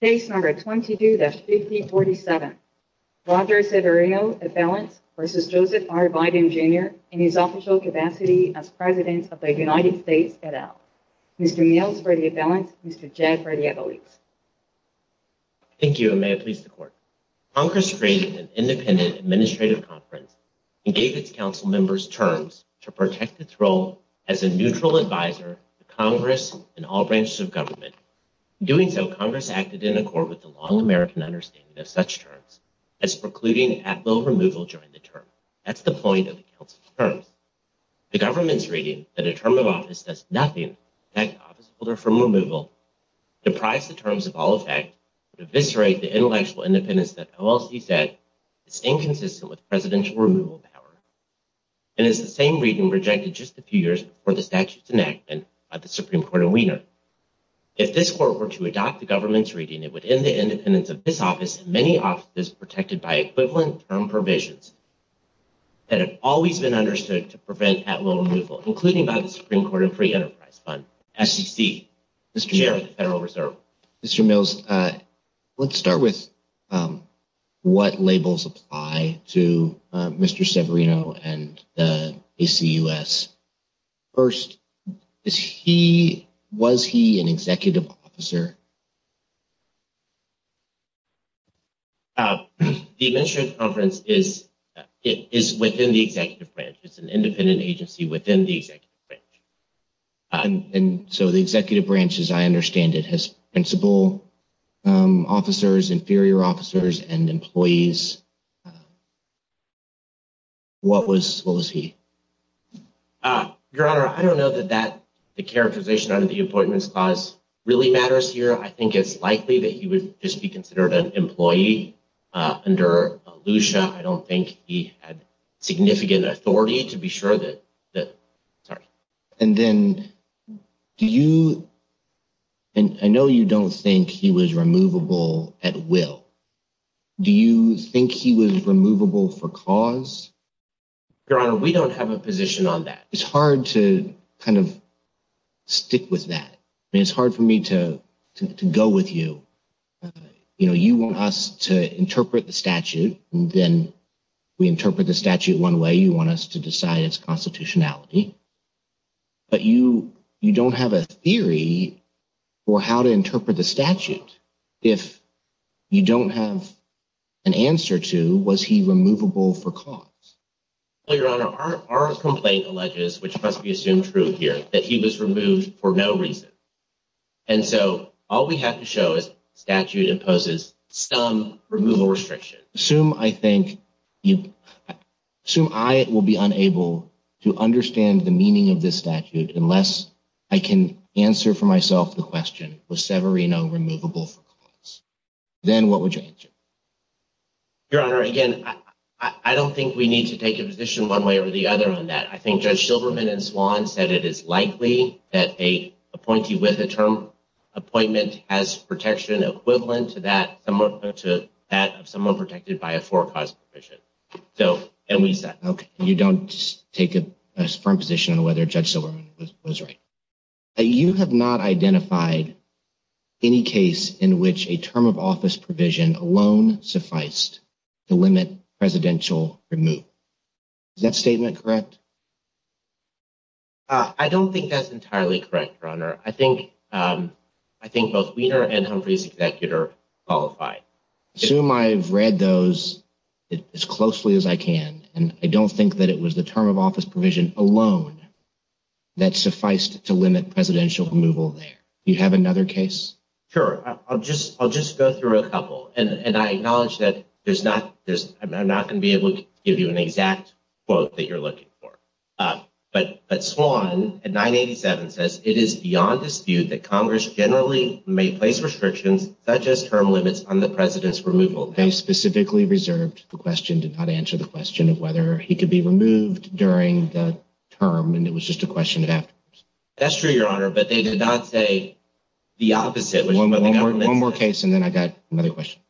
Case No. 22-5047. Roger Severino, a felon, v. Joseph R. Biden, Jr., in his official capacity as President of the United States et al. Mr. Niels for the felons, Mr. Jack for the athletes. Thank you, and may it please the Court. Congress created an independent administrative conference and gave its council members terms to protect its role as a neutral advisor to Congress and all branches of government. In doing so, Congress acted in accord with the long American understanding of such terms, as precluding at-will removal during the term. That's the point of the council's terms. The government's reading that a term of office does nothing to protect the officeholder from removal deprives the terms of all effect and eviscerates the intellectual independence that OLC said is inconsistent with presidential removal power. And it's the same reading rejected just a few years before the statute's enactment by the Supreme Court of Wiener. If this Court were to adopt the government's reading, it would end the independence of this office and many offices protected by equivalent term provisions that have always been understood to prevent at-will removal, including by the Supreme Court and Free Enterprise Fund. SEC, Mr. Chairman of the Federal Reserve. Mr. Niels, let's start with what labels apply to Mr. Severino and the ACUS. First, is he, was he an executive officer? The Administrative Conference is within the executive branch. It's an independent agency within the executive branch. And so the executive branch, as I understand it, has principal officers, inferior officers, and employees. What was, what was he? Your Honor, I don't know that that, the characterization under the appointments clause really matters here. I think it's likely that he would just be considered an employee under LUCIA. I don't think he had significant authority to be sure that, that, sorry. And then do you, and I know you don't think he was removable at will. Do you think he was removable for cause? Your Honor, we don't have a position on that. It's hard to kind of stick with that. I mean, it's hard for me to go with you. You know, you want us to interpret the statute, and then we interpret the statute one way. You want us to decide its constitutionality. But you, you don't have a theory for how to interpret the statute. If you don't have an answer to, was he removable for cause? Your Honor, our complaint alleges, which must be assumed true here, that he was removed for no reason. And so all we have to show is statute imposes some removal restriction. Assume I think, assume I will be unable to understand the meaning of this statute unless I can answer for myself the question, was Severino removable for cause? Then what would you answer? Your Honor, again, I don't think we need to take a position one way or the other on that. I think Judge Silberman and Swan said it is likely that a appointee with a term appointment has protection equivalent to that of someone protected by a for cause provision. So, and we said. You don't take a firm position on whether Judge Silberman was right. You have not identified any case in which a term of office provision alone sufficed to limit presidential removal. Is that statement correct? I don't think that's entirely correct, Your Honor. I think both Wiener and Humphrey's executor qualified. Assume I've read those as closely as I can, and I don't think that it was the term of office provision alone that sufficed to limit presidential removal there. Do you have another case? Sure, I'll just go through a couple, and I acknowledge that I'm not going to be able to give you an exact quote that you're looking for. But Swan at 987 says it is beyond dispute that Congress generally may place restrictions such as term limits on the president's removal. They specifically reserved the question, did not answer the question of whether he could be removed during the term, and it was just a question afterwards. That's true, Your Honor, but they did not say the opposite. One more case, and then I got another question.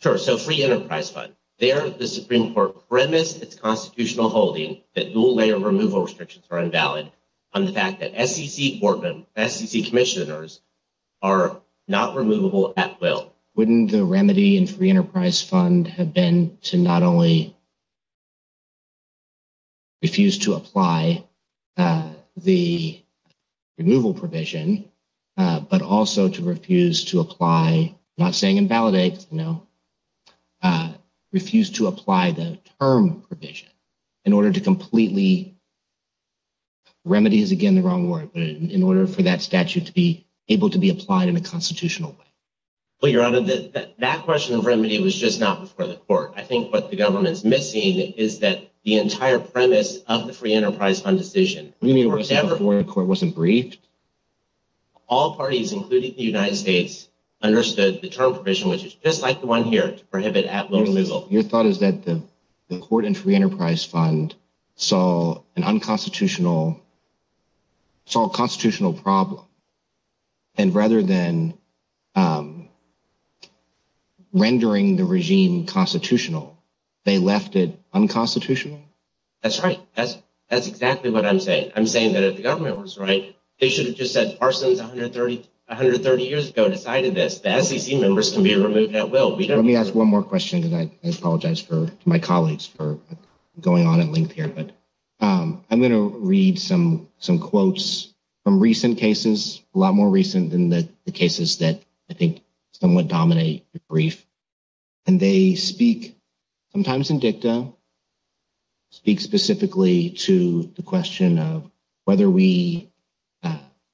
Sure, so free enterprise fund. There, the Supreme Court premised its constitutional holding that dual-layer removal restrictions are invalid on the fact that SEC commissioners are not removable at will. Wouldn't the remedy in free enterprise fund have been to not only refuse to apply the removal provision, but also to refuse to apply, not saying invalidate, no, refuse to apply the term provision in order to completely, remedy is again the wrong word, but in order for that statute to be able to be applied in a constitutional way? Well, Your Honor, that question of remedy was just not before the court. I think what the government's missing is that the entire premise of the free enterprise fund decision. You mean before the court wasn't briefed? All parties, including the United States, understood the term provision, which is just like the one here, to prohibit at-will removal. Your thought is that the court in free enterprise fund saw an unconstitutional problem, and rather than rendering the regime constitutional, they left it unconstitutional? That's right. That's exactly what I'm saying. I'm saying that if the government was right, they should have just said, arsons 130 years ago decided this. The SEC members can be removed at will. Let me ask one more question because I apologize for my colleagues for going on at length here, but I'm going to read some quotes from recent cases, a lot more recent than the cases that I think somewhat dominate the brief. And they speak sometimes in dicta, speak specifically to the question of whether we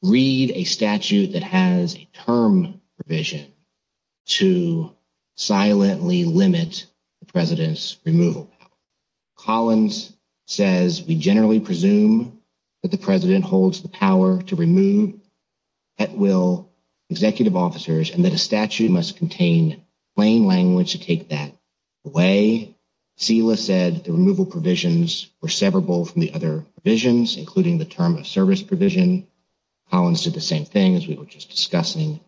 read a statute that has a term provision to silently limit the president's removal. Collins says, we generally presume that the president holds the power to remove at-will executive officers and that a statute must contain plain language to take that away. SILA said the removal provisions were severable from the other provisions, including the term of service provision. Collins did the same thing as we were just discussing.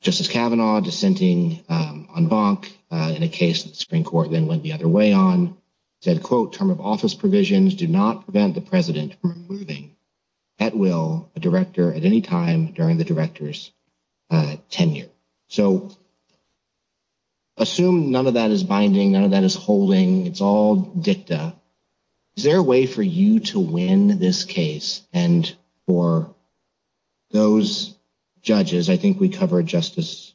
Justice Kavanaugh dissenting on Bonk in a case that the Supreme Court then went the other way on, said, quote, term of office provisions do not prevent the president from removing at will a director at any time during the director's tenure. So assume none of that is binding. None of that is holding. It's all dicta. Is there a way for you to win this case? And for those judges, I think we covered Justice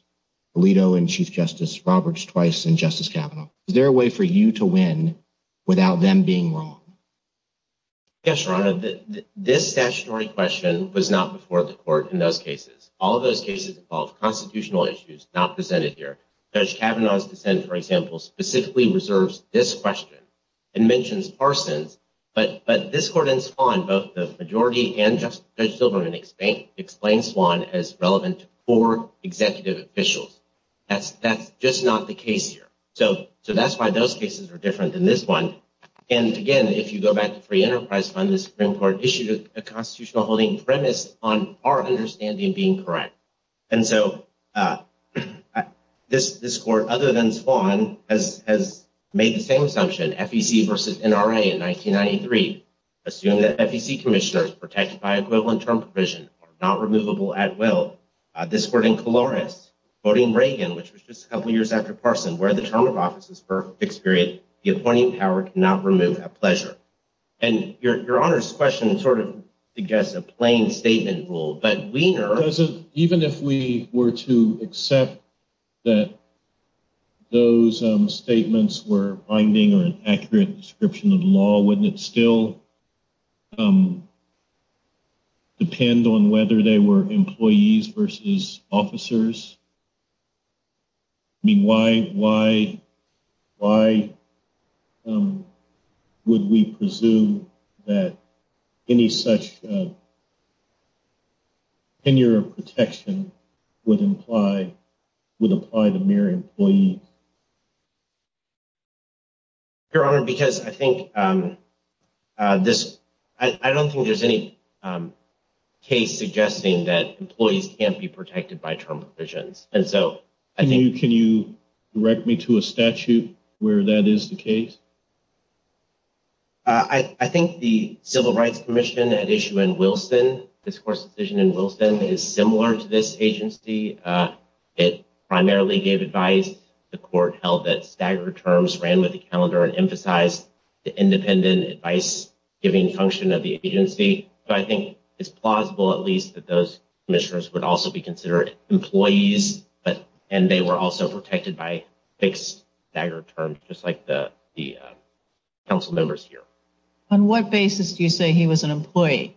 Alito and Chief Justice Roberts twice and Justice Kavanaugh. Is there a way for you to win without them being wrong? Yes, Your Honor. This statutory question was not before the court in those cases. All of those cases involve constitutional issues not presented here. Judge Kavanaugh's dissent, for example, specifically reserves this question and mentions Parsons. But this court in Swan, both the majority and Judge Silverman, explains Swan as relevant to four executive officials. That's just not the case here. So that's why those cases are different than this one. And again, if you go back to Free Enterprise Fund, the Supreme Court issued a constitutional holding premise on our understanding being correct. And so this court, other than Swan, has made the same assumption, FEC versus NRA in 1993, assuming that FEC commissioners protected by equivalent term provision are not removable at will. This court in Colores, voting Reagan, which was just a couple years after Parsons, where the term of office is for a fixed period, the appointing power cannot remove at pleasure. And Your Honor's question sort of suggests a plain statement rule. Even if we were to accept that those statements were binding or an accurate description of the law, wouldn't it still depend on whether they were employees versus officers? I mean, why would we presume that any such tenure of protection would apply to mere employees? Your Honor, because I think this I don't think there's any case suggesting that employees can't be protected by term provisions. And so I think you can you direct me to a statute where that is the case? I think the Civil Rights Commission at issue in Wilson, this court's decision in Wilson is similar to this agency. It primarily gave advice. The court held that staggered terms ran with the calendar and emphasized the independent advice giving function of the agency. But I think it's plausible, at least, that those commissioners would also be considered employees. But and they were also protected by fixed staggered terms, just like the council members here. On what basis do you say he was an employee?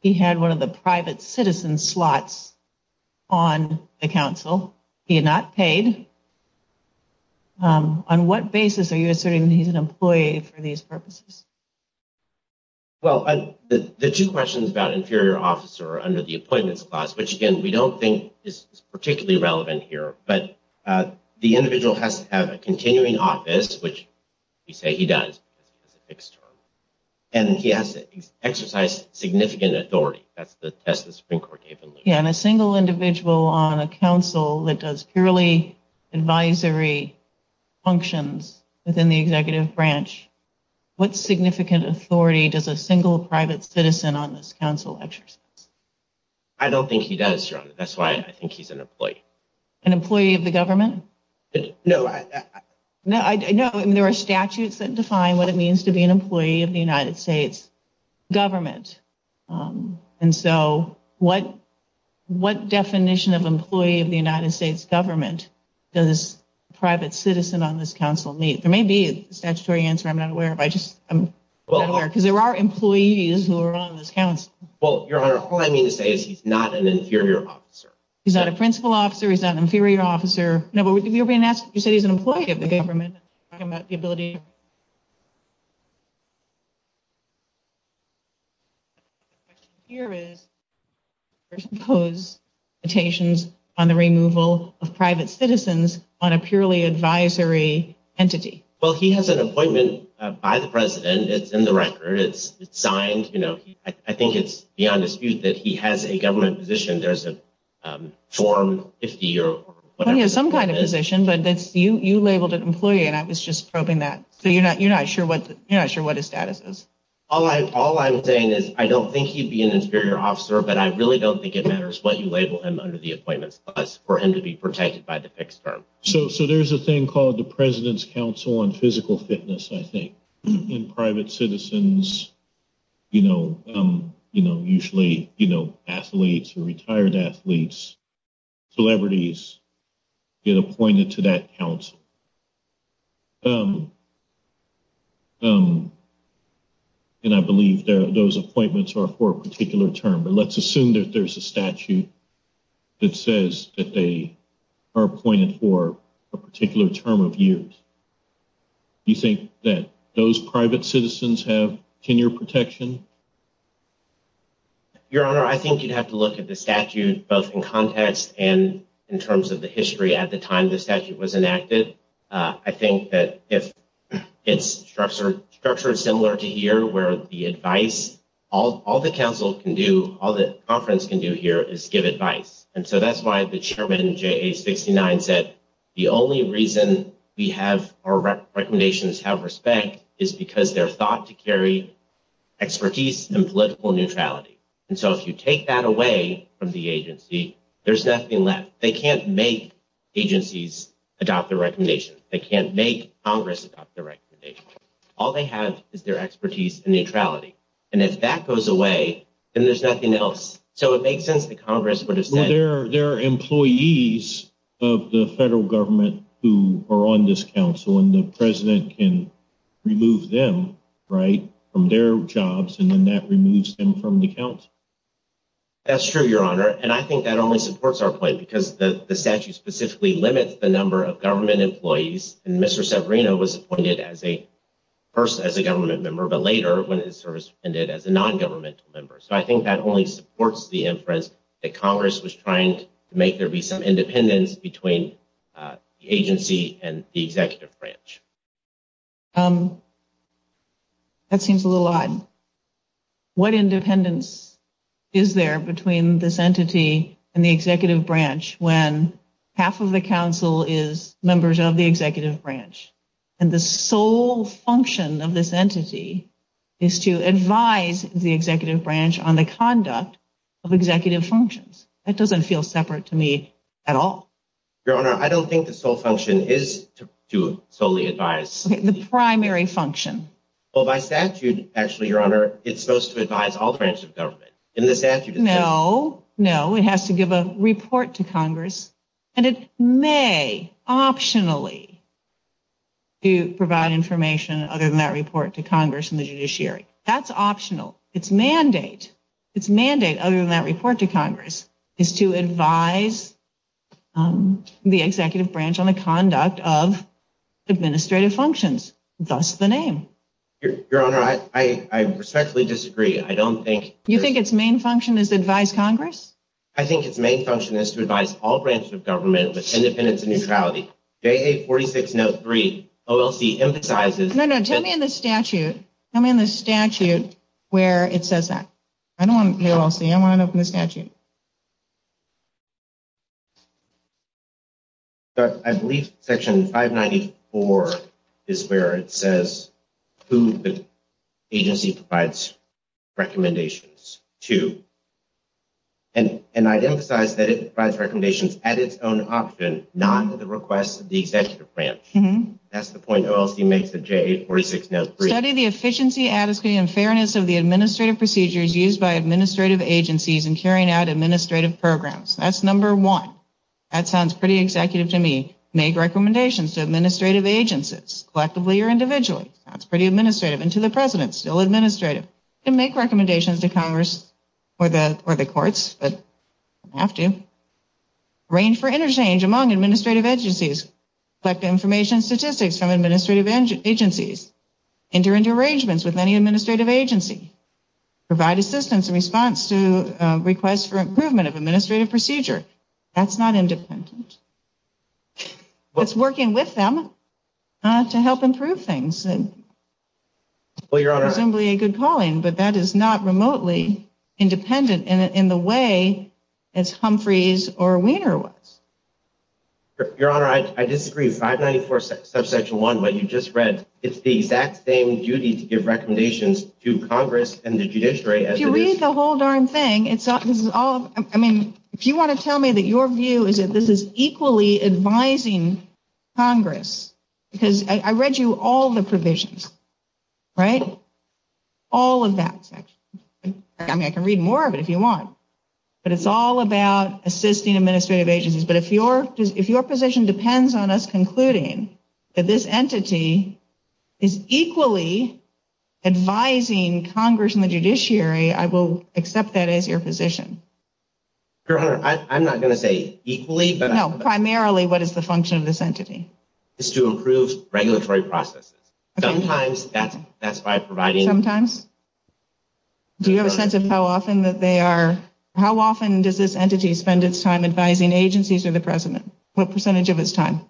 He had one of the private citizen slots on the council. He had not paid. On what basis are you asserting he's an employee for these purposes? Well, the two questions about inferior officer under the appointments class, which, again, we don't think is particularly relevant here. But the individual has to have a continuing office, which you say he does. And he has to exercise significant authority. That's the Supreme Court. Yeah. And a single individual on a council that does purely advisory functions within the executive branch. What significant authority does a single private citizen on this council exercise? I don't think he does. That's why I think he's an employee, an employee of the government. No, no, no. And there are statutes that define what it means to be an employee of the United States government. And so what what definition of employee of the United States government does private citizen on this council meet? There may be a statutory answer. I'm not aware of. I just I'm aware because there are employees who are on this council. Well, your honor, all I mean to say is he's not an inferior officer. He's not a principal officer. He's not an inferior officer. No, but you're being asked. You said he's an employee of the government. About the ability. Here is. Pose mutations on the removal of private citizens on a purely advisory entity. Well, he has an appointment by the president. It's in the record. It's signed. You know, I think it's beyond dispute that he has a government position. There's a form if you have some kind of position. But that's you. You labeled an employee and I was just probing that. So you're not you're not sure what you're not sure what his status is. All right. All I'm saying is I don't think he'd be an inferior officer, but I really don't think it matters what you label him under the appointments for him to be protected by the fixed term. So so there's a thing called the President's Council on Physical Fitness, I think, in private citizens. You know, you know, usually, you know, athletes or retired athletes, celebrities get appointed to that council. And I believe those appointments are for a particular term. Let's assume that there's a statute that says that they are appointed for a particular term of years. You think that those private citizens have tenure protection? Your Honor, I think you'd have to look at the statute both in context and in terms of the history at the time the statute was enacted. I think that if it's structured, structured similar to here, where the advice all the council can do, all the conference can do here is give advice. And so that's why the chairman, Jay, 69, said the only reason we have our recommendations have respect is because they're thought to carry expertise and political neutrality. And so if you take that away from the agency, there's nothing left. They can't make agencies adopt the recommendation. They can't make Congress about the recommendation. All they have is their expertise and neutrality. And if that goes away and there's nothing else. So it makes sense that Congress would have said there are employees of the federal government who are on this council and the president can remove them right from their jobs. And then that removes them from the council. That's true, Your Honor, and I think that only supports our point because the statute specifically limits the number of government employees. And Mr. Severino was appointed as a person, as a government member, but later when his service ended as a non-governmental member. So I think that only supports the inference that Congress was trying to make there be some independence between the agency and the executive branch. That seems a little odd. What independence is there between this entity and the executive branch when half of the council is members of the executive branch? And the sole function of this entity is to advise the executive branch on the conduct of executive functions. That doesn't feel separate to me at all. Your Honor, I don't think the sole function is to solely advise. The primary function. Well, by statute, actually, Your Honor, it's supposed to advise all branches of government. No, no, it has to give a report to Congress. And it may optionally provide information other than that report to Congress and the judiciary. That's optional. Its mandate, other than that report to Congress, is to advise the executive branch on the conduct of administrative functions. Thus the name. Your Honor, I respectfully disagree. I don't think. You think its main function is to advise Congress? I think its main function is to advise all branches of government with independence and neutrality. J.A. 46 note 3, OLC emphasizes. No, no, tell me in the statute. Tell me in the statute where it says that. I don't want to be OLC. I want to know from the statute. I believe section 594 is where it says who the agency provides recommendations to. And I emphasize that it provides recommendations at its own option, not at the request of the executive branch. That's the point OLC makes in J.A. 46 note 3. Study the efficiency, adequacy, and fairness of the administrative procedures used by administrative agencies in carrying out administrative programs. That's number one. That sounds pretty executive to me. Make recommendations to administrative agencies, collectively or individually. That's pretty administrative. And to the President, still administrative. You can make recommendations to Congress or the courts, but you don't have to. Arrange for interchange among administrative agencies. Collect information and statistics from administrative agencies. Enter into arrangements with any administrative agency. Provide assistance in response to requests for improvement of administrative procedure. That's not independent. It's working with them to help improve things. Presumably a good calling, but that is not remotely independent in the way as Humphreys or Weiner was. Your Honor, I disagree with 594 subsection 1, but you just read it's the exact same duty to give recommendations to Congress and the judiciary. If you read the whole darn thing, it's all, I mean, if you want to tell me that your view is that this is equally advising Congress. Because I read you all the provisions, right? All of that. I mean, I can read more of it if you want. But it's all about assisting administrative agencies. But if your position depends on us concluding that this entity is equally advising Congress and the judiciary, I will accept that as your position. Your Honor, I'm not going to say equally. No, primarily what is the function of this entity? It's to improve regulatory processes. Sometimes that's by providing. Sometimes? Do you have a sense of how often that they are, how often does this entity spend its time advising agencies or the president? What percentage of its time?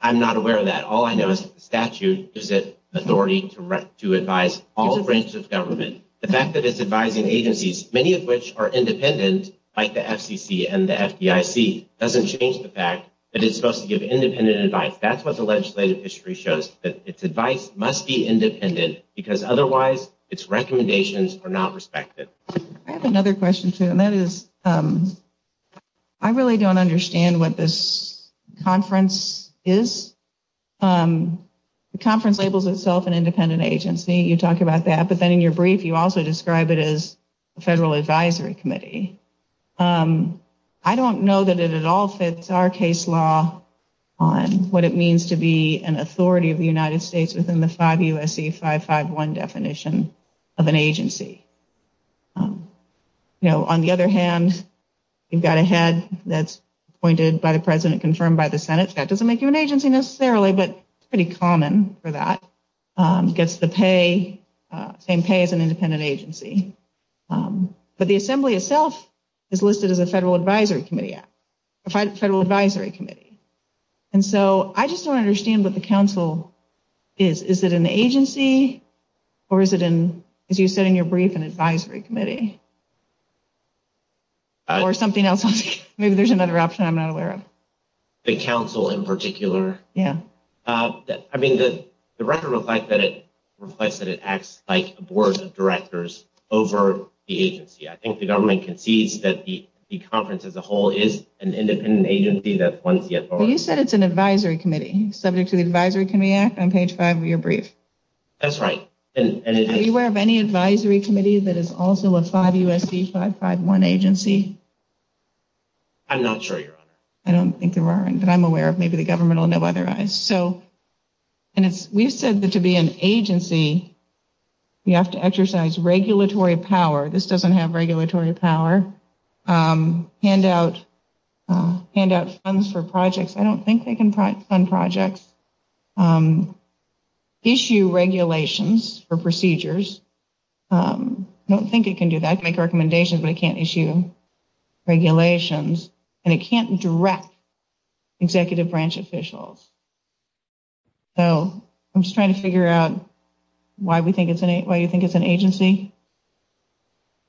I'm not aware of that. All I know is that the statute gives it authority to advise all branches of government. The fact that it's advising agencies, many of which are independent, like the FCC and the FDIC, doesn't change the fact that it's supposed to give independent advice. That's what the legislative history shows, that its advice must be independent because otherwise its recommendations are not respected. I have another question, too, and that is I really don't understand what this conference is. The conference labels itself an independent agency. You talk about that, but then in your brief you also describe it as a federal advisory committee. I don't know that it at all fits our case law on what it means to be an authority of the United States within the 5 U.S.C. 551 definition of an agency. On the other hand, you've got a head that's appointed by the president, confirmed by the Senate. That doesn't make you an agency necessarily, but it's pretty common for that. It gets the same pay as an independent agency. But the assembly itself is listed as a federal advisory committee. And so I just don't understand what the council is. Is it an agency or is it, as you said in your brief, an advisory committee? Or something else? Maybe there's another option I'm not aware of. The council in particular? Yeah. I mean, the record reflects that it acts like a board of directors over the agency. I think the government concedes that the conference as a whole is an independent agency. You said it's an advisory committee subject to the Advisory Committee Act on page 5 of your brief. That's right. Are you aware of any advisory committee that is also a 5 U.S.C. 551 agency? I'm not sure, Your Honor. I don't think there are any that I'm aware of. Maybe the government will know otherwise. We've said that to be an agency, you have to exercise regulatory power. This doesn't have regulatory power. Hand out funds for projects. I don't think they can fund projects. Issue regulations for procedures. I don't think it can do that. It can make recommendations, but it can't issue regulations. And it can't direct executive branch officials. So I'm just trying to figure out why you think it's an agency.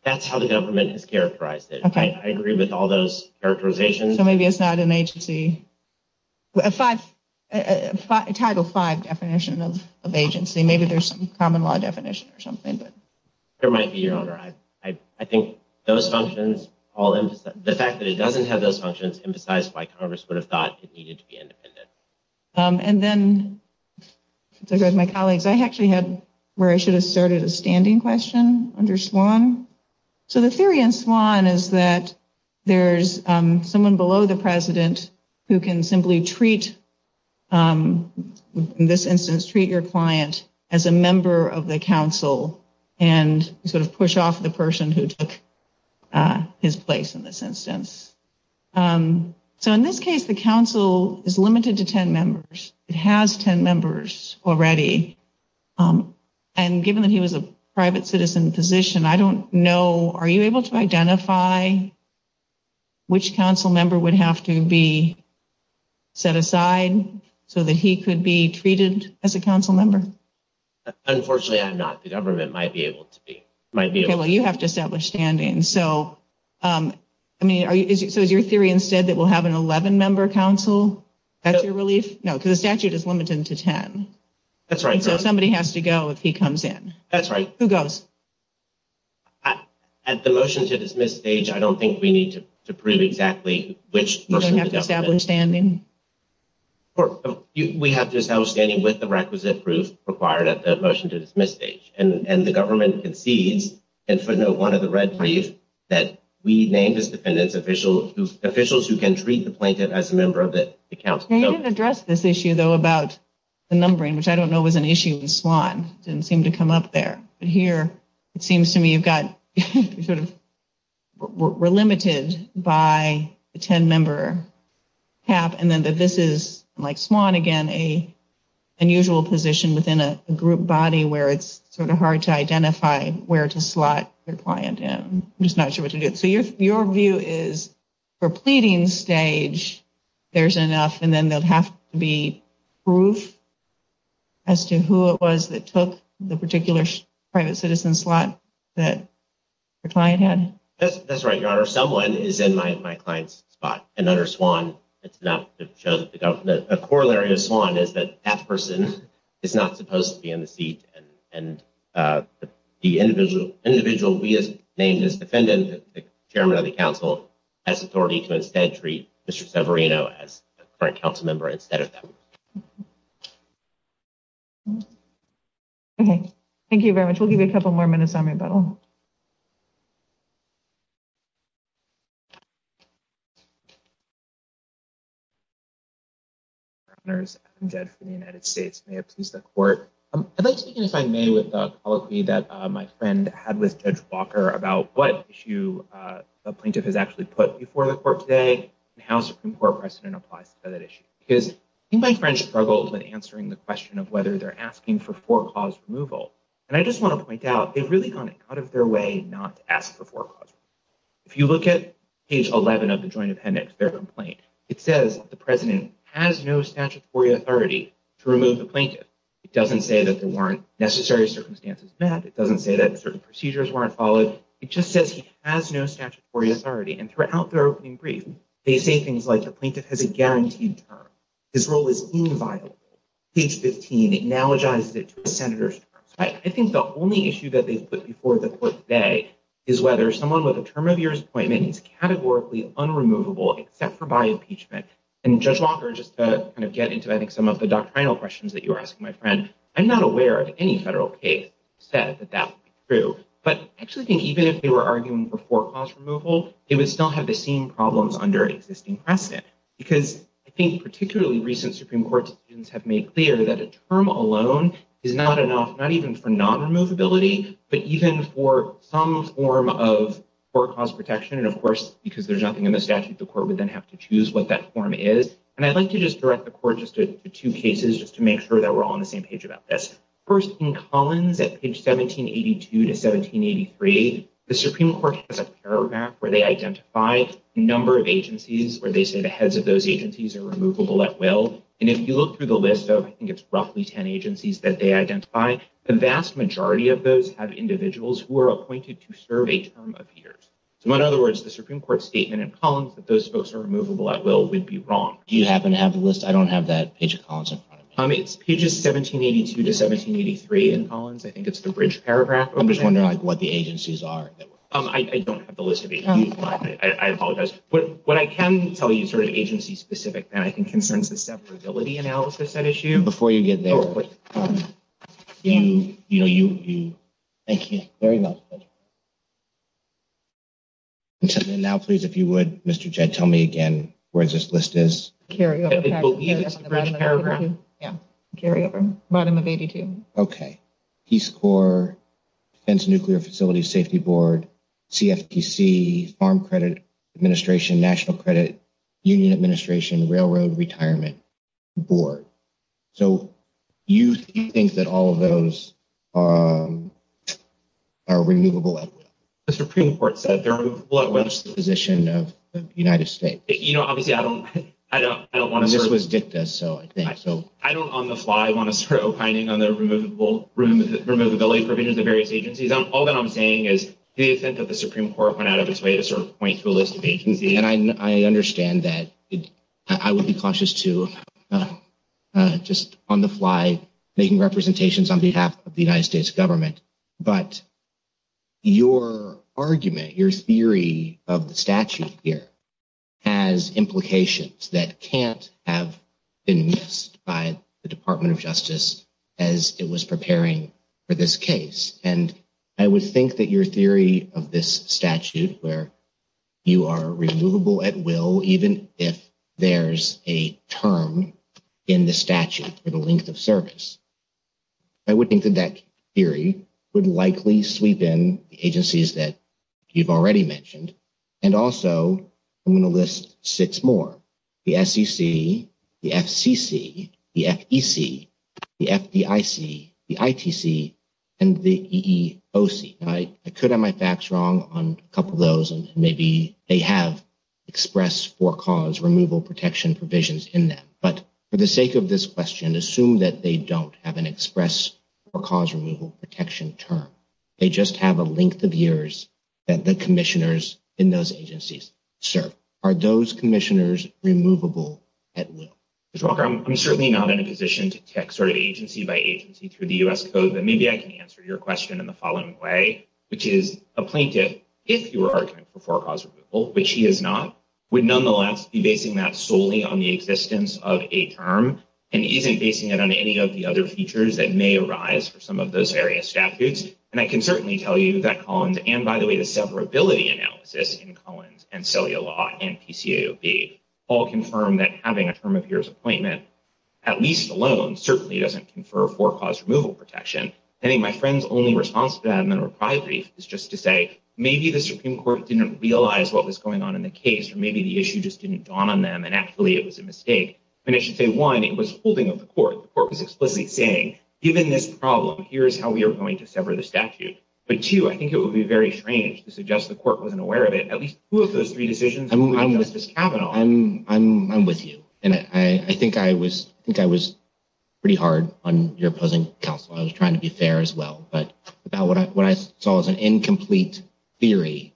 That's how the government has characterized it. I agree with all those characterizations. So maybe it's not an agency. Title V definition of agency. Maybe there's some common law definition or something. It might be, Your Honor. I think those functions, the fact that it doesn't have those functions emphasize why Congress would have thought it needed to be independent. And then my colleagues, I actually had where I should have started a standing question under SWAN. So the theory in SWAN is that there's someone below the president who can simply treat, in this instance, treat your client as a member of the person who took his place in this instance. So in this case, the council is limited to ten members. It has ten members already. And given that he was a private citizen position, I don't know, are you able to identify which council member would have to be set aside so that he could be treated as a council member? Unfortunately, I'm not. The government might be able to be. Okay. Well, you have to establish standing. So is your theory instead that we'll have an 11-member council? That's your relief? No, because the statute is limited to ten. That's right, Your Honor. So somebody has to go if he comes in. That's right. Who goes? At the motion to dismiss stage, I don't think we need to prove exactly which person the government. You don't have to establish standing? We have to establish standing with the requisite proof required at the motion to dismiss stage. And the government concedes in footnote one of the red briefs that we named as defendants officials who can treat the plaintiff as a member of the council. You didn't address this issue, though, about the numbering, which I don't know was an issue with Swan. It didn't seem to come up there. But here it seems to me you've got sort of we're limited by the ten-member cap and then that this is, like Swan again, an unusual position within a group body where it's sort of hard to identify where to slot their client in. I'm just not sure what to do. So your view is for pleading stage, there's enough, and then there would have to be proof as to who it was that took the particular private citizen slot that the client had? That's right, Your Honor. Someone is in my client's spot, and under Swan, it's enough to show that the government, a corollary of Swan is that that person is not supposed to be in the seat, and the individual we have named as defendant, the chairman of the council has authority to instead treat Mr. Severino as a current council member instead of them. Okay. Thank you very much. We'll give you a couple more minutes on rebuttal. Your Honors, I'm Jed from the United States. May it please the court. I'd like to begin, if I may, with the colloquy that my friend had with Judge Walker about what issue the plaintiff has actually put before the court today and how Supreme Court precedent applies to that issue. Because I think my friend struggled with answering the question of whether they're asking for four-cause removal, and I just want to point out, they've really gone out of their way not to ask for four-cause removal. If you look at page 11 of the joint appendix, their complaint, it says the president has no statutory authority to remove the plaintiff. It doesn't say that there weren't necessary circumstances met. It doesn't say that certain procedures weren't followed. It just says he has no statutory authority. And throughout their opening brief, they say things like the plaintiff has a guaranteed term. His role is inviolable. Page 15 analogizes it to a senator's terms. I think the only issue that they've put before the court today is whether someone with a term of years appointment is categorically unremovable except for by impeachment. And Judge Walker, just to kind of get into, I think, some of the doctrinal questions that you were asking, my friend, I'm not aware of any federal case that said that that would be true. But I actually think even if they were arguing for four-cause removal, it would still have the same problems under existing precedent. Because I think particularly recent Supreme Court decisions have made clear that a term alone is not enough, not even for non-removability, but even for some form of four-cause protection. And of course, because there's nothing in the statute, the court would then have to choose what that form is. And I'd like to just direct the court just to two cases, just to make sure that we're all on the same page about this. First, in Collins, at page 1782 to 1783, the Supreme Court has a paragraph where they identify a number of agencies where they say the heads of those agencies are removable at will. And if you look through the list of, I think it's roughly 10 agencies that they identify, the vast majority of those have individuals who are appointed to serve a term of years. So in other words, the Supreme Court statement in Collins that those folks are removable at will would be wrong. Do you happen to have the list? I don't have that page of Collins in front of me. It's pages 1782 to 1783 in Collins. I think it's the bridge paragraph. I'm just wondering what the agencies are. I don't have the list of agencies. I apologize. What I can tell you is sort of agency-specific, and I think concerns the separability analysis at issue. Before you get there. Thank you. Thank you very much. Now, please, if you would, Mr. Jed, tell me again, where this list is. Carry on. Yeah, carry over. Bottom of 82. Okay. Peace Corps, Nuclear Facilities Safety Board, CFTC, Farm Credit Administration, National Credit, Union Administration, Railroad Retirement Board. So you think that all of those are removable at will? The Supreme Court said they're removable at will. That's the position of the United States. You know, obviously, I don't want to. This was dicta, so I think. I don't on the fly want to start opining on the removability provisions of various agencies. All that I'm saying is the offense of the Supreme Court went out of its way to sort of point to a list of agencies. And I understand that. I would be cautious, too, just on the fly making representations on behalf of the United States government. But your argument, your theory of the statute here, has implications that can't have been missed by the Department of Justice as it was preparing for this case. And I would think that your theory of this statute, where you are removable at will, even if there's a term in the statute for the length of service. I would think that that theory would likely sweep in the agencies that you've already mentioned. And also, I'm going to list six more. The SEC, the FCC, the FEC, the FDIC, the ITC, and the EEOC. I could have my facts wrong on a couple of those, and maybe they have express for cause removal protection provisions in them. But for the sake of this question, assume that they don't have an express for cause removal protection term. They just have a length of years that the commissioners in those agencies serve. Are those commissioners removable at will? Mr. Walker, I'm certainly not in a position to tick sort of agency by agency through the U.S. Code. But maybe I can answer your question in the following way, which is a plaintiff, if you were arguing for for cause removal, which he is not, would nonetheless be basing that solely on the existence of a term and isn't basing it on any of the other features that may arise for some of those various statutes. And I can certainly tell you that Collins, and by the way the severability analysis in Collins and Celia Law and PCAOB, all confirm that having a term of years appointment, at least alone, certainly doesn't confer for cause removal protection. I think my friend's only response to that in the reply brief is just to say, maybe the Supreme Court didn't realize what was going on in the case, or maybe the issue just didn't dawn on them and actually it was a mistake. And I should say, one, it was holding of the court. The court was explicitly saying, given this problem, here is how we are going to sever the statute. But, two, I think it would be very strange to suggest the court wasn't aware of it. At least two of those three decisions would be on Justice Kavanaugh. I'm with you. And I think I was pretty hard on your opposing counsel. I was trying to be fair as well. About what I saw as an incomplete theory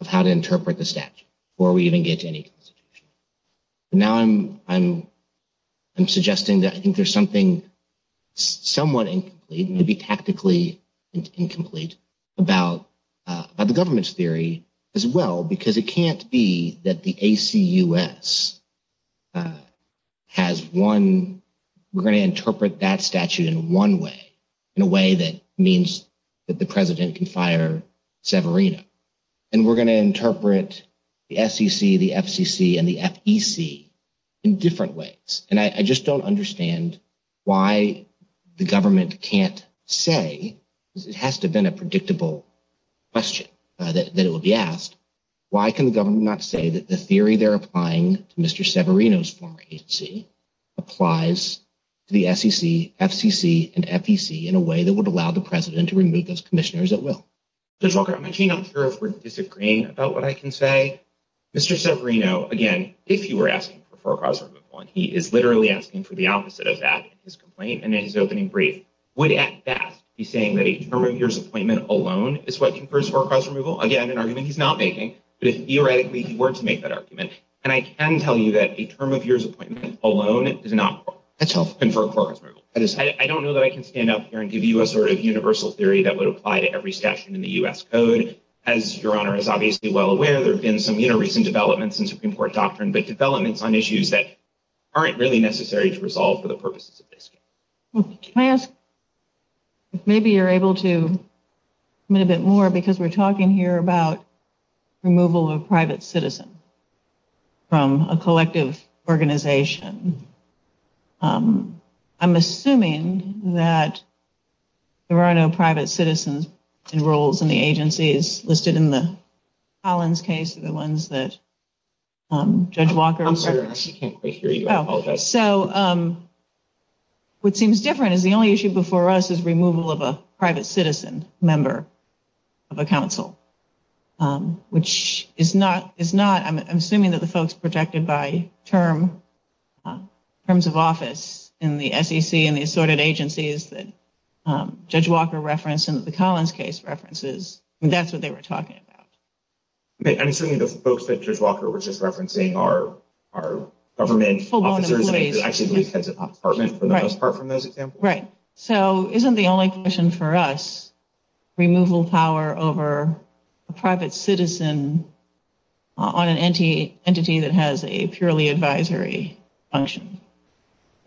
of how to interpret the statute, before we even get to any constitution. Now I'm suggesting that I think there's something somewhat incomplete, maybe tactically incomplete, about the government's theory as well, because it can't be that the ACUS has one, we're going to interpret that statute in one way, in a way that means that the president can fire Severino. And we're going to interpret the SEC, the FCC, and the FEC in different ways. And I just don't understand why the government can't say, because it has to have been a predictable question that it would be asked, why can the government not say that the theory they're applying to Mr. Severino's former agency applies to the SEC, FCC, and FEC, in a way that would allow the president to remove those commissioners at will? Judge Walker, I'm actually not sure if we're disagreeing about what I can say. Mr. Severino, again, if you were asking for foreclose removal, and he is literally asking for the opposite of that in his complaint and in his opening brief, would at best be saying that a term of years appointment alone is what confers foreclose removal. Again, an argument he's not making, but theoretically he were to make that argument. And I can tell you that a term of years appointment alone does not confer foreclose removal. I don't know that I can stand up here and give you a sort of universal theory that would apply to every statute in the U.S. code. As Your Honor is obviously well aware, there have been some recent developments in Supreme Court doctrine, but developments on issues that aren't really necessary to resolve for the purposes of this case. Can I ask if maybe you're able to commit a bit more, because we're talking here about removal of a private citizen from a collective organization. I'm assuming that there are no private citizens in roles in the agencies listed in the Collins case, the ones that Judge Walker asserted. I'm sorry, I actually can't quite hear you. I apologize. So, what seems different is the only issue before us is removal of a private citizen member of a council, which is not, I'm assuming that the folks protected by terms of office in the SEC and the assorted agencies that Judge Walker referenced and the Collins case references, that's what they were talking about. I'm assuming the folks that Judge Walker was just referencing are government officers, actually heads of department for the most part from those examples. Right. So, isn't the only question for us, removal power over a private citizen on an entity that has a purely advisory function?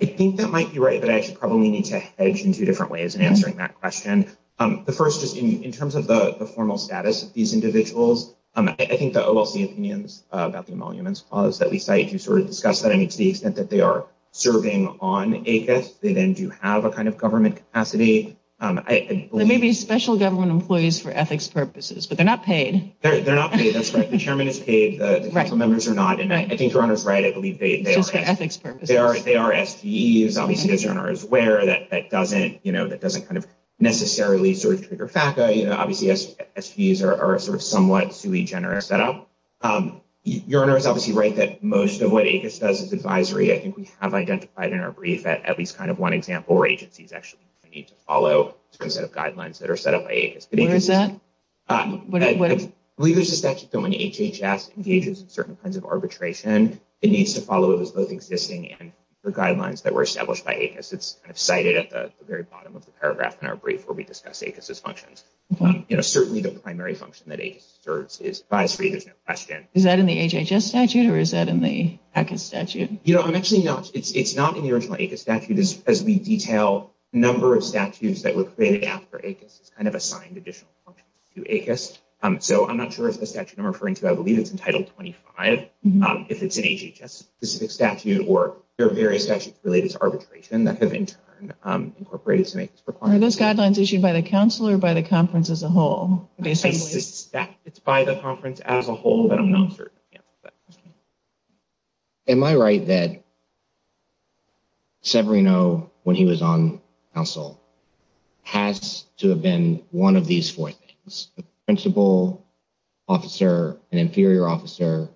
I think that might be right, but I actually probably need to hedge in two different ways in answering that question. The first, just in terms of the formal status of these individuals, I think the OLC opinions about the emoluments clause that we cite, you sort of discussed that. I mean, to the extent that they are serving on ACAS, they then do have a kind of government capacity. They may be special government employees for ethics purposes, but they're not paid. They're not paid, that's right. The chairman is paid, the council members are not. I think your Honor is right. I believe they are SGEs. Obviously, as your Honor is aware, that doesn't kind of necessarily sort of trigger FACA. Obviously, SGEs are a sort of somewhat sui generis setup. Your Honor is obviously right that most of what ACAS does is advisory. I think we have identified in our brief at least kind of one example where agencies actually need to follow a set of guidelines that are set up by ACAS. Where is that? I believe there's a statute that when HHS engages in certain kinds of arbitration, it needs to follow those existing guidelines that were established by ACAS. It's cited at the very bottom of the paragraph in our brief where we discuss ACAS's functions. Certainly, the primary function that ACAS serves is advisory. There's no question. Is that in the HHS statute or is that in the ACAS statute? You know, I'm actually not. It's not in the original ACAS statute. As we detail the number of statutes that were created after ACAS, it's kind of assigned additional functions to ACAS. So I'm not sure if the statute I'm referring to, I believe it's in Title 25. If it's an HHS-specific statute or there are various statutes related to arbitration that have, in turn, incorporated some ACAS requirements. Are those guidelines issued by the counsel or by the conference as a whole? It's by the conference as a whole, but I'm not certain. Am I right that Severino, when he was on counsel, has to have been one of these four things? A principal, officer, an inferior officer,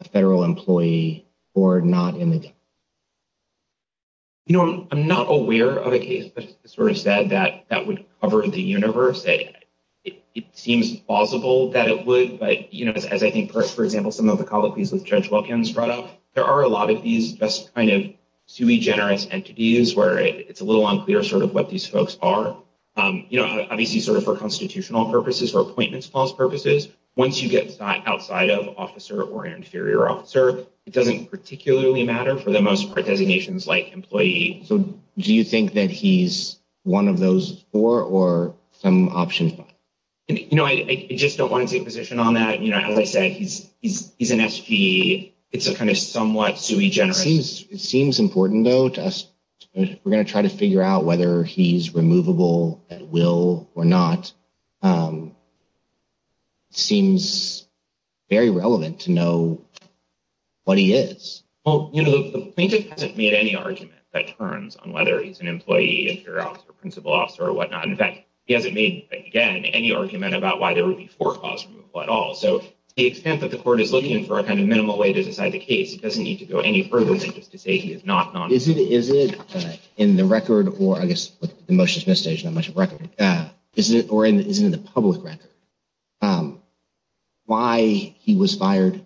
a federal employee, or not in the department? You know, I'm not aware of a case that sort of said that that would cover the universe. It seems plausible that it would. But, you know, as I think, for example, some of the colloquies with Judge Wilkins brought up, there are a lot of these best kind of sui generis entities where it's a little unclear sort of what these folks are. You know, obviously, sort of for constitutional purposes or appointments clause purposes, once you get outside of officer or inferior officer, it doesn't particularly matter for the most part designations like employee. So do you think that he's one of those four or some option? You know, I just don't want to take a position on that. You know, as I said, he's he's he's an S.P. It's a kind of somewhat sui generis. It seems important, though, to us. We're going to try to figure out whether he's removable at will or not. Seems very relevant to know what he is. Well, you know, the plaintiff hasn't made any argument that turns on whether he's an employee or principal officer or whatnot. In fact, he hasn't made, again, any argument about why there would be four clause removal at all. So the extent that the court is looking for a kind of minimal way to decide the case doesn't need to go any further than just to say he is not. Is it is it in the record or I guess the motion is not much of record. Is it or isn't it the public record why he was fired?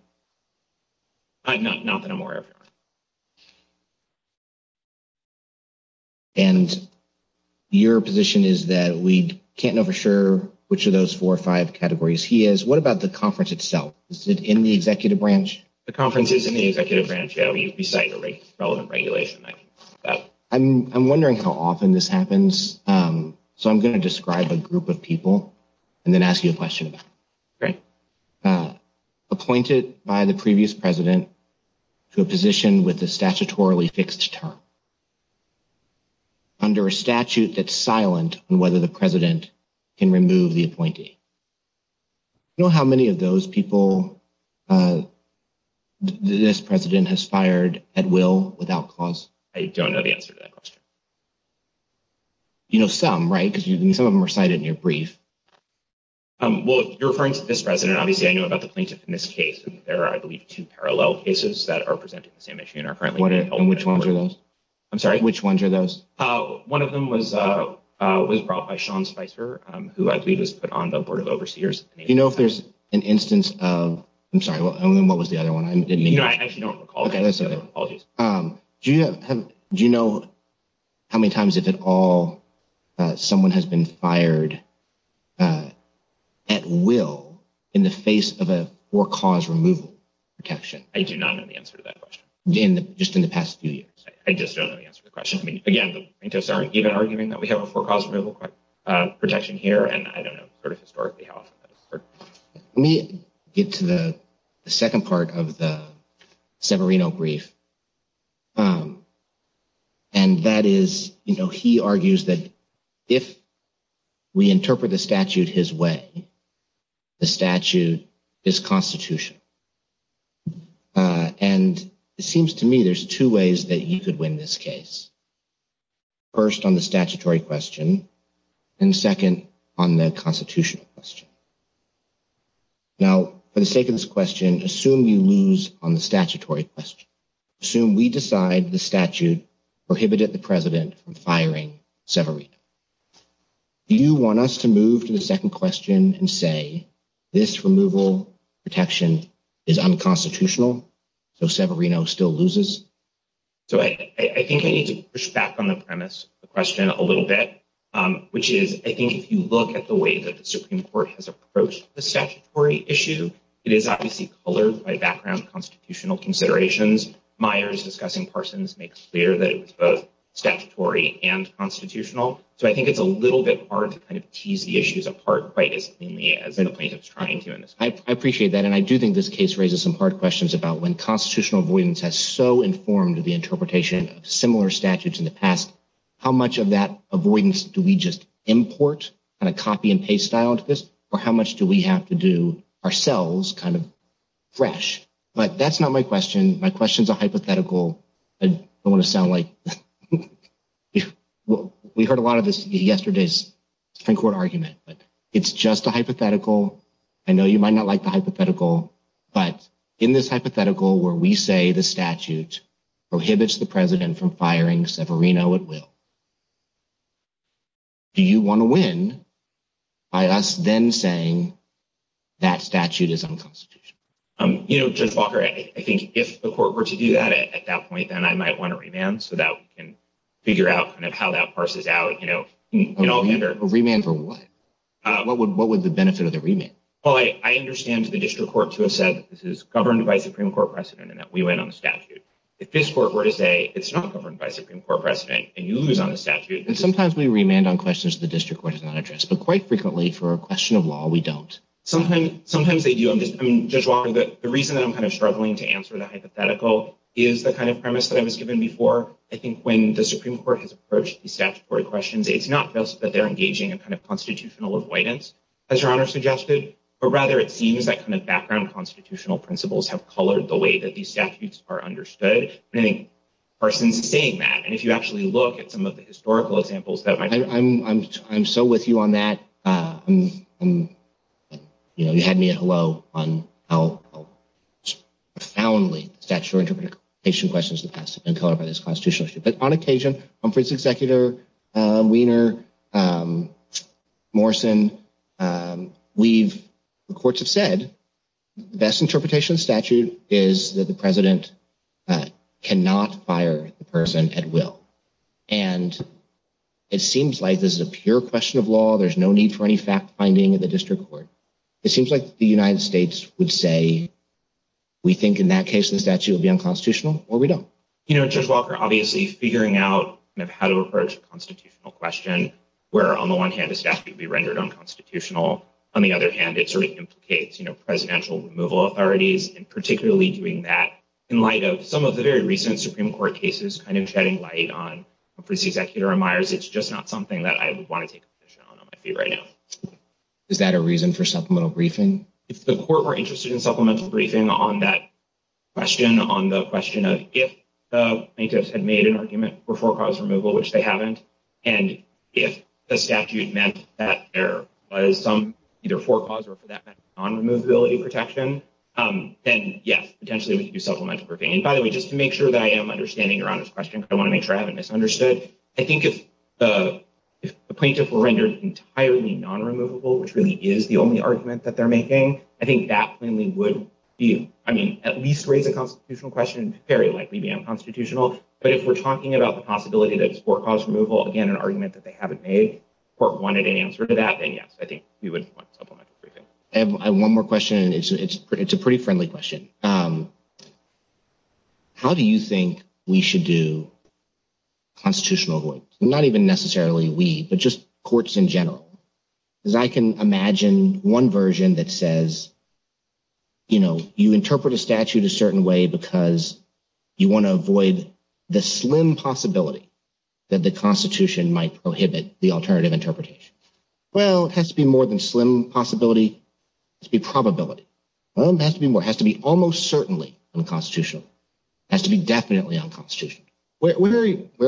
No, not that I'm aware of. And your position is that we can't know for sure which of those four or five categories he is. What about the conference itself? Is it in the executive branch? The conference is in the executive branch beside the relevant regulation. I'm wondering how often this happens. So I'm going to describe a group of people and then ask you a question. Right. Appointed by the previous president to a position with a statutorily fixed term. Under a statute that's silent on whether the president can remove the appointee. You know how many of those people this president has fired at will without cause? I don't know the answer to that question. You know, some. Right. Because some of them are cited in your brief. Well, you're referring to this president. Obviously, I know about the plaintiff in this case. There are, I believe, two parallel cases that are presenting the same issue. And which ones are those? I'm sorry. Which ones are those? One of them was was brought by Sean Spicer, who I believe was put on the board of overseers. You know, if there's an instance of I'm sorry. What was the other one? Do you know how many times if at all someone has been fired at will in the face of a four cause removal protection? I do not know the answer to that question. Just in the past few years. I just don't know the answer to the question. I mean, again, the plaintiffs aren't even arguing that we have a four cause removal protection here. And I don't know sort of historically how we get to the second part of the Severino brief. And that is, you know, he argues that if we interpret the statute his way. The statute is constitutional. And it seems to me there's two ways that you could win this case. First on the statutory question and second on the constitutional question. Now, for the sake of this question, assume you lose on the statutory question. Assume we decide the statute prohibited the president from firing Severino. Do you want us to move to the second question and say this removal protection is unconstitutional? So Severino still loses. So I think I need to push back on the premise of the question a little bit, which is, I think, if you look at the way that the Supreme Court has approached the statutory issue. It is obviously colored by background constitutional considerations. Myers discussing Parsons makes clear that it was both statutory and constitutional. So I think it's a little bit hard to kind of tease the issues apart. I appreciate that. And I do think this case raises some hard questions about when constitutional avoidance has so informed the interpretation of similar statutes in the past. How much of that avoidance do we just import and a copy and paste style to this? Or how much do we have to do ourselves kind of fresh? But that's not my question. My question is a hypothetical. I want to sound like we heard a lot of this yesterday's Supreme Court argument, but it's just a hypothetical. I know you might not like the hypothetical, but in this hypothetical where we say the statute prohibits the president from firing Severino at will. Do you want to win by us then saying that statute is unconstitutional? You know, Judge Walker, I think if the court were to do that at that point, then I might want to remand so that we can figure out kind of how that parses out, you know. A remand for what? What would what would the benefit of the remand? Well, I understand the district court to have said this is governed by Supreme Court precedent and that we went on the statute. If this court were to say it's not governed by Supreme Court precedent and you lose on the statute. And sometimes we remand on questions the district court has not addressed. But quite frequently for a question of law, we don't. Sometimes sometimes they do. I'm just I'm just wondering that the reason that I'm kind of struggling to answer the hypothetical is the kind of premise that I was given before. I think when the Supreme Court has approached the statutory questions, it's not just that they're engaging in kind of constitutional avoidance, as your honor suggested, but rather it seems that kind of background constitutional principles have colored the way that these statutes are understood. Parsons saying that and if you actually look at some of the historical examples that I'm I'm I'm so with you on that. And, you know, you had me at hello on how profoundly statutory interpretation questions have been colored by this constitutional issue. But on occasion, I'm for its executor, Weiner, Morrison. We've the courts have said the best interpretation statute is that the president cannot fire the person at will. And it seems like this is a pure question of law. There's no need for any fact finding in the district court. It seems like the United States would say we think in that case, the statute would be unconstitutional or we don't. You know, Judge Walker, obviously figuring out how to approach a constitutional question where, on the one hand, a statute be rendered unconstitutional. On the other hand, it sort of implicates presidential removal authorities and particularly doing that in light of some of the very recent Supreme Court cases kind of shedding light on. Executor Myers, it's just not something that I would want to take on my feet right now. Is that a reason for supplemental briefing? If the court were interested in supplemental briefing on that question, on the question of if plaintiffs had made an argument for for cause removal, which they haven't. And if the statute meant that there was some either for cause or for that non-removability protection, then, yes, potentially we could do supplemental briefing. And by the way, just to make sure that I am understanding Your Honor's question, I want to make sure I haven't misunderstood. I think if the plaintiff were rendered entirely non-removable, which really is the only argument that they're making, I think that plainly would be, I mean, at least raise a constitutional question, very likely be unconstitutional. But if we're talking about the possibility that it's for cause removal, again, an argument that they haven't made or wanted an answer to that, then, yes, I think we would want supplemental briefing. I have one more question. It's a pretty friendly question. How do you think we should do constitutional avoidance? Not even necessarily we, but just courts in general. Because I can imagine one version that says, you know, you interpret a statute a certain way because you want to avoid the slim possibility that the Constitution might prohibit the alternative interpretation. Well, it has to be more than slim possibility. It has to be probability. It has to be more. It has to be almost certainly unconstitutional. It has to be definitely unconstitutional. Where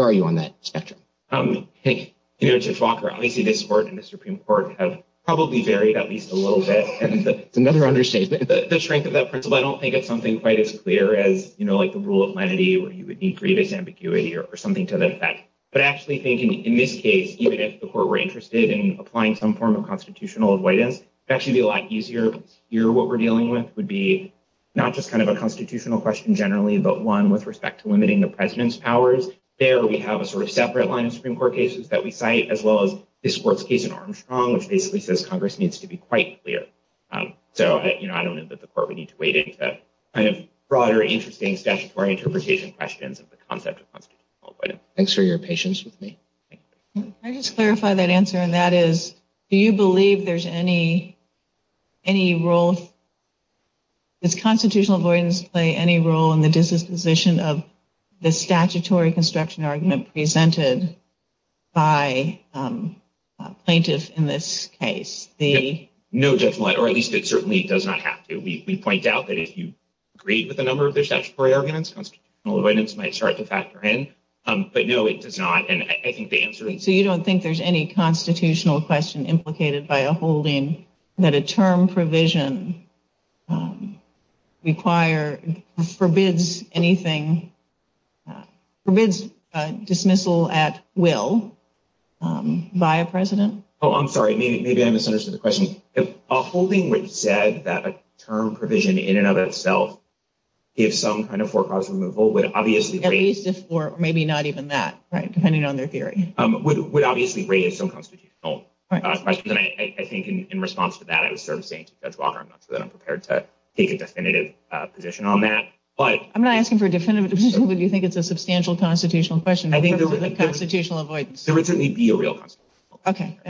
are you on that spectrum? You know, Judge Walker, obviously this Court and the Supreme Court have probably varied at least a little bit. It's another understatement. The strength of that principle, I don't think it's something quite as clear as, you know, like the rule of lenity where you would need grievous ambiguity or something to that effect. But I actually think in this case, even if the Court were interested in applying some form of constitutional avoidance, it would actually be a lot easier. Here, what we're dealing with would be not just kind of a constitutional question generally, but one with respect to limiting the President's powers. There, we have a sort of separate line of Supreme Court cases that we cite, as well as this Court's case in Armstrong, which basically says Congress needs to be quite clear. So, you know, I don't think that the Court would need to wade into kind of broader, interesting statutory interpretation questions of the concept of constitutional avoidance. Thanks for your patience with me. Can I just clarify that answer, and that is, do you believe there's any role, does constitutional avoidance play any role in the disposition of the statutory construction argument presented by a plaintiff in this case? No, Judge Millett, or at least it certainly does not have to. We point out that if you agree with a number of their statutory arguments, constitutional avoidance might start to factor in. But no, it does not, and I think the answer is no. So you don't think there's any constitutional question implicated by a holding that a term provision require, forbids anything, forbids dismissal at will by a President? Oh, I'm sorry, maybe I misunderstood the question. If a holding which said that a term provision in and of itself gives some kind of forecast removal would obviously raise... At least if, or maybe not even that, right, depending on their theory. Would obviously raise some constitutional questions, and I think in response to that, I was sort of saying to Judge Walker, I'm not sure that I'm prepared to take a definitive position on that, but... I'm not asking for a definitive position, but do you think it's a substantial constitutional question? There would certainly be a real constitutional question.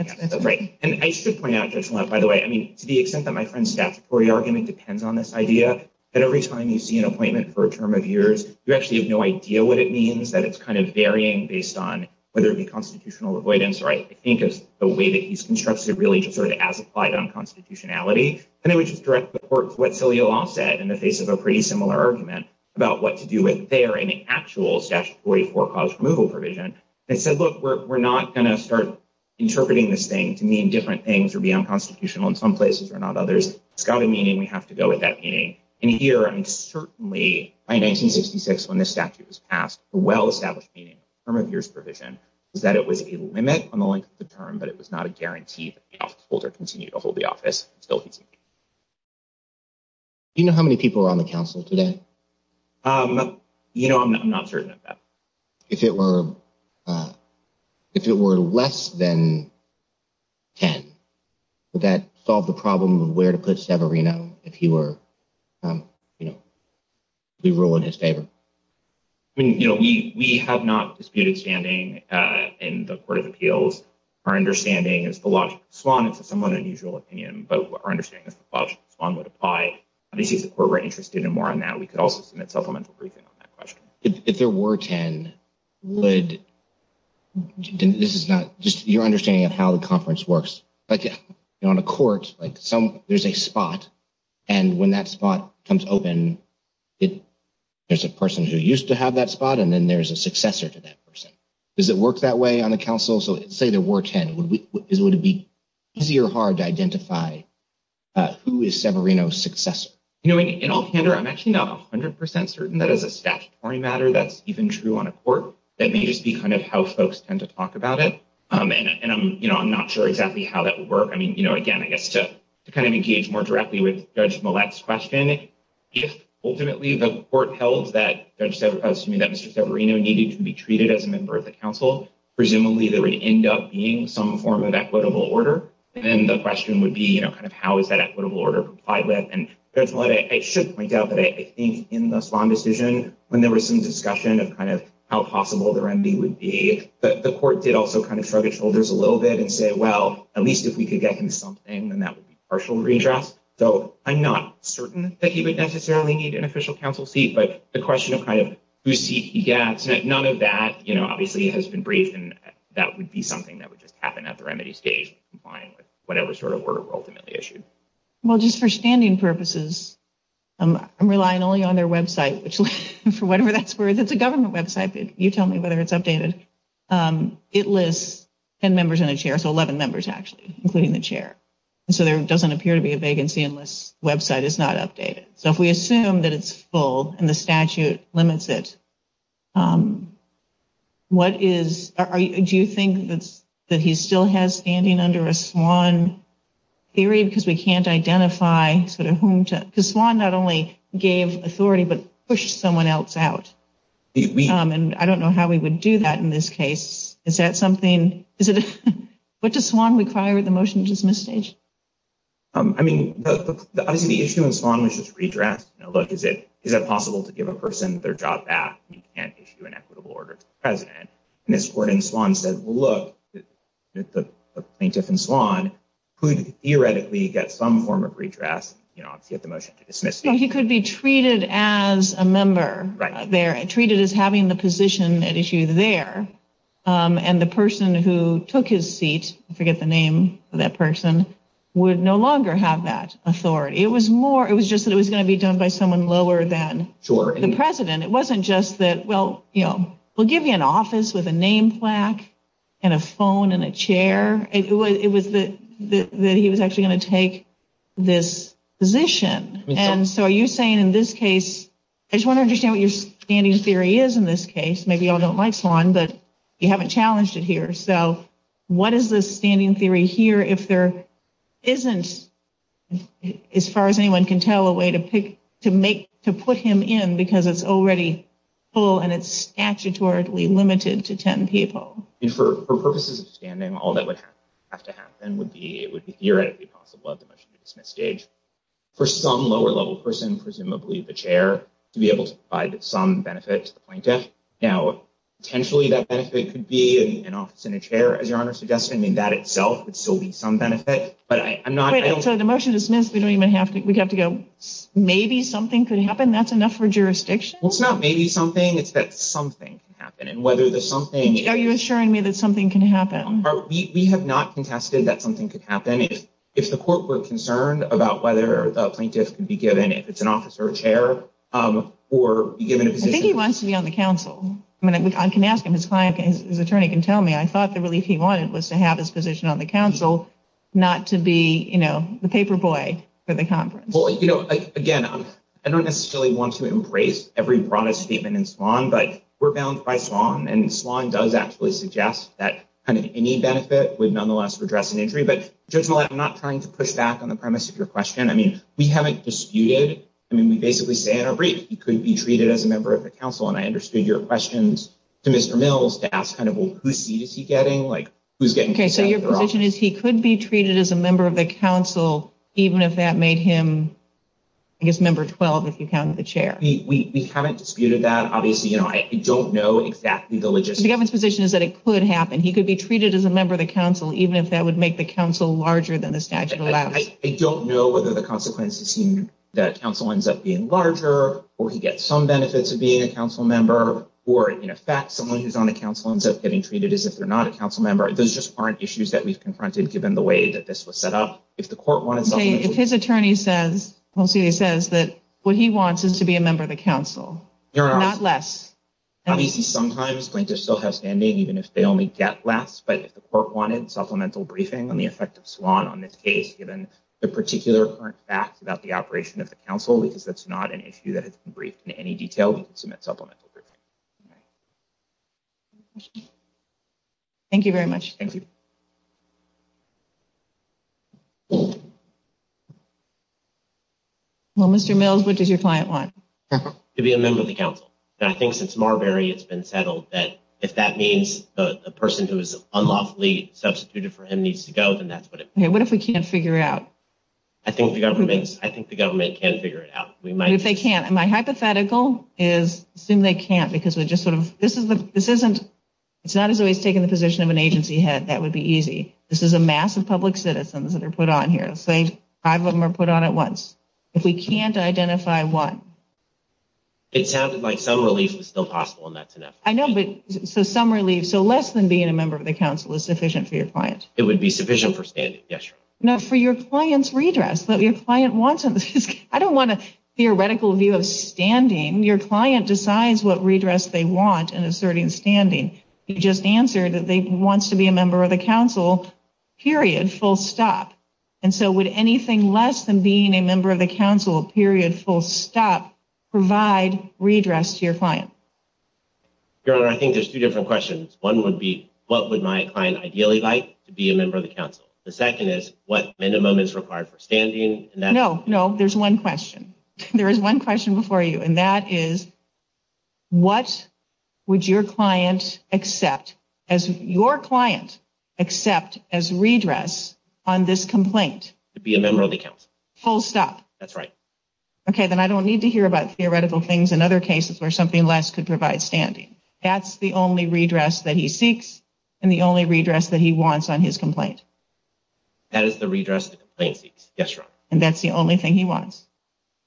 And I should point out, Judge Millett, by the way, I mean, to the extent that my friend's statutory argument depends on this idea, that every time you see an appointment for a term of years, you actually have no idea what it means. That it's kind of varying based on whether it be constitutional avoidance, or I think it's the way that he's constructed really just sort of as applied unconstitutionality. And I would just direct the court to what Celia Law said in the face of a pretty similar argument about what to do with their actual statutory forecast removal provision. They said, look, we're not going to start interpreting this thing to mean different things or be unconstitutional in some places or not others. It's got a meaning, we have to go with that meaning. And here, I mean, certainly by 1966, when this statute was passed, a well-established meaning of the term of years provision is that it was a limit on the length of the term, but it was not a guarantee that the officeholder continued to hold the office. It's still easy. Do you know how many people were on the council today? You know, I'm not certain of that. If it were less than 10, would that solve the problem of where to put Severino if he were, you know, we rule in his favor? I mean, you know, we have not disputed standing in the Court of Appeals. Our understanding is the logical swan is a somewhat unusual opinion, but our understanding is the logical swan would apply. Obviously, if the court were interested in more on that, we could also submit supplemental briefing on that question. If there were 10, would, this is not, just your understanding of how the conference works. Like on a court, like some, there's a spot, and when that spot comes open, there's a person who used to have that spot, and then there's a successor to that person. Does it work that way on a council? So say there were 10, would it be easy or hard to identify who is Severino's successor? You know, in all candor, I'm actually not 100% certain that as a statutory matter, that's even true on a court. That may just be kind of how folks tend to talk about it. And I'm, you know, I'm not sure exactly how that would work. I mean, you know, again, I guess to kind of engage more directly with Judge Millett's question, if ultimately the court held that Judge Severino, that Mr. Severino needed to be treated as a member of the council, presumably there would end up being some form of equitable order. And then the question would be, you know, kind of how is that equitable order complied with? And Judge Millett, I should point out that I think in the Svahn decision, when there was some discussion of kind of how possible the remedy would be, the court did also kind of shrug its shoulders a little bit and say, well, at least if we could get him something, then that would be partial redress. So I'm not certain that he would necessarily need an official council seat, but the question of kind of whose seat he gets, none of that, you know, is what the court is trying to find with whatever sort of order were ultimately issued. Well, just for standing purposes, I'm relying only on their website, which for whatever that's worth, it's a government website. You tell me whether it's updated. It lists 10 members in a chair, so 11 members actually, including the chair. And so there doesn't appear to be a vacancy unless the website is not updated. So if we assume that it's full and the statute limits it, what is, do you think that he still has standing under a Svahn theory? Because we can't identify sort of whom to, because Svahn not only gave authority, but pushed someone else out. And I don't know how we would do that in this case. Is that something, is it, what does Svahn require with the motion to dismiss stage? I mean, obviously the issue in Svahn was just redress. You know, look, is it, is it possible to give a person their job back and issue an equitable order to the president? And this court in Svahn said, well, look, the plaintiff in Svahn could theoretically get some form of redress, you know, to get the motion to dismiss. He could be treated as a member there, treated as having the position at issue there. And the person who took his seat, I forget the name of that person, would no longer have that authority. It was more, it was just that it was going to be done by someone lower than the president. It wasn't just that, well, you know, we'll give you an office with a name plaque and a phone and a chair. It was that he was actually going to take this position. And so are you saying in this case, I just want to understand what your standing theory is in this case. Maybe you all don't like Svahn, but you haven't challenged it here. So what is the standing theory here if there isn't, as far as anyone can tell, a way to pick, to make, to put him in because it's already full and it's statutorily limited to 10 people? For purposes of standing, all that would have to happen would be, it would be theoretically possible at the motion to dismiss stage. For some lower level person, presumably the chair, to be able to provide some benefit to the plaintiff. Now, potentially that benefit could be an office and a chair, as your Honor suggested. I mean, that itself would still be some benefit, but I'm not. So the motion to dismiss, we don't even have to, we'd have to go, maybe something could happen. That's enough for jurisdiction. It's not maybe something, it's that something can happen. And whether there's something. Are you assuring me that something can happen? We have not contested that something could happen. If the court were concerned about whether the plaintiff could be given, if it's an office or a chair, or be given a position. I think he wants to be on the council. I mean, I can ask him, his client, his attorney can tell me. I thought the relief he wanted was to have his position on the council, not to be, you know, the paper boy for the conference. Well, you know, again, I don't necessarily want to embrace every broadest statement in Swan, but we're bound by Swan. And Swan does actually suggest that kind of any benefit would nonetheless redress an injury. But I'm not trying to push back on the premise of your question. I mean, we haven't disputed. I mean, we basically say in our brief, he could be treated as a member of the council. And I understood your questions to Mr. Mills to ask kind of who's seat is he getting? Like, who's getting. So your position is he could be treated as a member of the council, even if that made him, I guess, member 12, if you counted the chair. We haven't disputed that. Obviously, you know, I don't know exactly the logistics. The government's position is that it could happen. He could be treated as a member of the council, even if that would make the council larger than the statute allows. I don't know whether the consequences seem that council ends up being larger or he gets some benefits of being a council member or in effect, someone who's on the council ends up getting treated as if they're not a council member. Those just aren't issues that we've confronted, given the way that this was set up. If the court wanted something, if his attorney says he says that what he wants is to be a member of the council, you're not less. Obviously, sometimes plaintiffs still have standing, even if they only get less. But if the court wanted supplemental briefing on the effect of SWAN on this case, given the particular current facts about the operation of the council, because that's not an issue that has been briefed in any detail, we could submit supplemental briefing. Thank you very much. Thank you. Well, Mr. Mills, what does your client want? To be a member of the council. And I think since Marbury, it's been settled that if that means a person who is unlawfully substituted for him needs to go, then that's what it means. What if we can't figure it out? I think the government can figure it out. What if they can't? My hypothetical is assume they can't because we just sort of, this isn't, it's not as always taking the position of an agency head. That would be easy. This is a mass of public citizens that are put on here. Five of them are put on at once. If we can't identify one. It sounded like some relief was still possible, and that's enough. I know, but so some relief. So less than being a member of the council is sufficient for your client. It would be sufficient for standing, yes. No, for your client's redress. I don't want a theoretical view of standing. Your client decides what redress they want in a certain standing. You just answered that they want to be a member of the council, period, full stop. And so would anything less than being a member of the council, period, full stop, provide redress to your client? Your Honor, I think there's two different questions. One would be what would my client ideally like to be a member of the council? The second is what minimum is required for standing. No, no, there's one question. There is one question before you, and that is what would your client accept as your client accept as redress on this complaint? To be a member of the council. Full stop. That's right. Okay, then I don't need to hear about theoretical things in other cases where something less could provide standing. That's the only redress that he seeks and the only redress that he wants on his complaint. And that's the only thing he wants?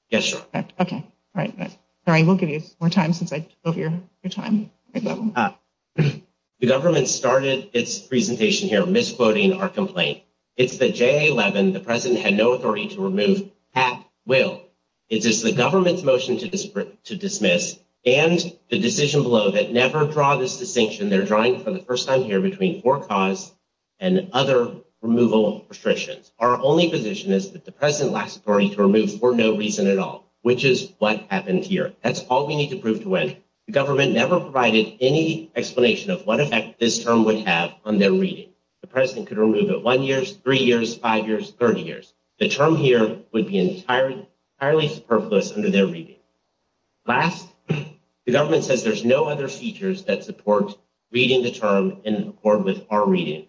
Yes, Your Honor. Okay, all right. Sorry, we'll give you more time since I took over your time. The government started its presentation here misquoting our complaint. It's the JA-11, the president had no authority to remove at will. It is the government's motion to dismiss and the decision below that never draw this distinction. They're drawing for the first time here between for cause and other removal restrictions. Our only position is that the president lacks authority to remove for no reason at all, which is what happened here. That's all we need to prove to win. The government never provided any explanation of what effect this term would have on their reading. The president could remove it one year, three years, five years, 30 years. The term here would be entirely superfluous under their reading. Last, the government says there's no other features that support reading the term in accord with our reading.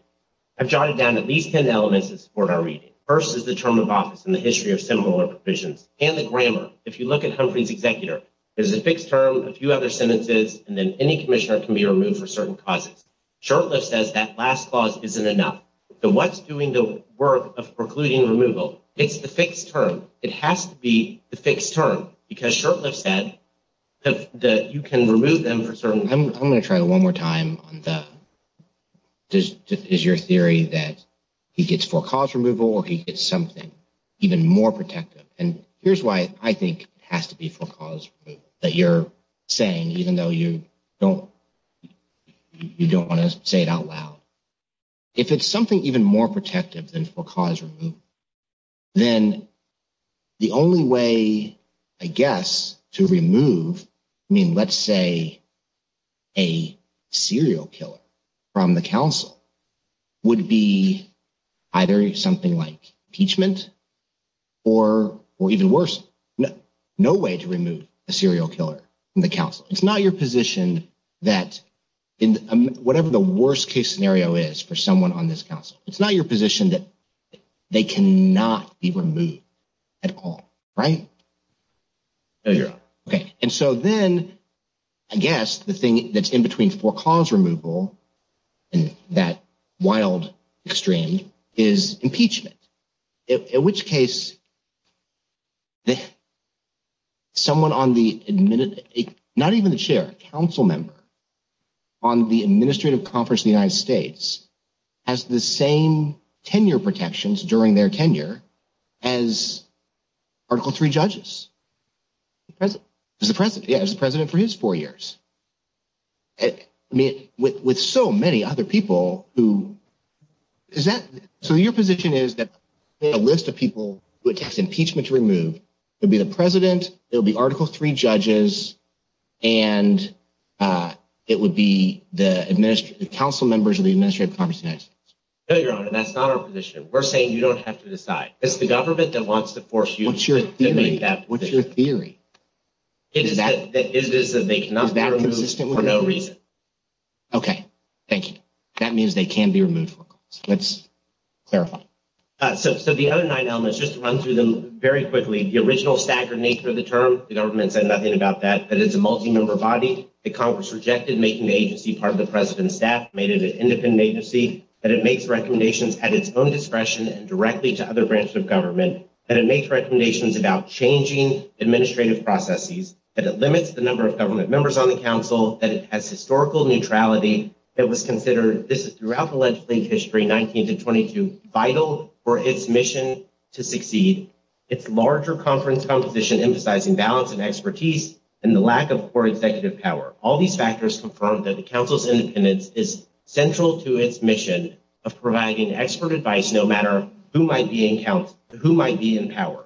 I've jotted down at least 10 elements that support our reading. First is the term of office and the history of similar provisions and the grammar. If you look at Humphrey's executor, there's a fixed term, a few other sentences, and then any commissioner can be removed for certain causes. Shurtleff says that last clause isn't enough. So what's doing the work of precluding removal? It's the fixed term. It has to be the fixed term because Shurtleff said that you can remove them for certain. I'm going to try it one more time on the – is your theory that he gets for-cause removal or he gets something even more protective? And here's why I think it has to be for-cause removal, that you're saying, even though you don't want to say it out loud. If it's something even more protective than for-cause removal, then the only way, I guess, to remove, I mean, let's say, a serial killer from the council would be either something like impeachment or even worse, no way to remove a serial killer from the council. It's not your position that whatever the worst-case scenario is for someone on this council, it's not your position that they cannot be removed at all, right? Okay, and so then I guess the thing that's in between for-cause removal and that wild extreme is impeachment, in which case someone on the – not even the chair, a council member on the administrative conference in the United States has the same tenure protections during their tenure as Article III judges. It's the president, yeah, it's the president for his four years. I mean, with so many other people who – is that – so your position is that a list of people who it takes impeachment to remove would be the president, it would be Article III judges, and it would be the council members of the administrative conference in the United States. No, Your Honor, that's not our position. We're saying you don't have to decide. It's the government that wants to force you to make that decision. What's your theory? It is that they cannot be removed for no reason. Okay, thank you. That means they can be removed for a cause. Let's clarify. So the other nine elements, just to run through them very quickly, the original staggered nature of the term, the government said nothing about that, that it's a multi-member body. The Congress rejected making the agency part of the president's staff, made it an independent agency, that it makes recommendations at its own discretion and directly to other branches of government, that it makes recommendations about changing administrative processes, that it limits the number of government members on the council, that it has historical neutrality, that it was considered – this is throughout the legislative history, 19 to 22 – vital for its mission to succeed. It's larger conference composition, emphasizing balance and expertise, and the lack of core executive power. All these factors confirm that the council's independence is central to its mission of providing expert advice, no matter who might be in power.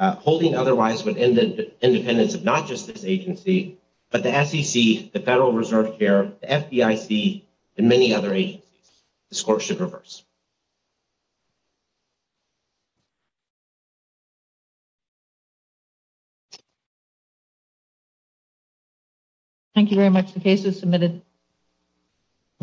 Holding otherwise would end the independence of not just this agency, but the SEC, the Federal Reserve Chair, the FDIC, and many other agencies. The score should reverse. Thank you very much. The case is submitted.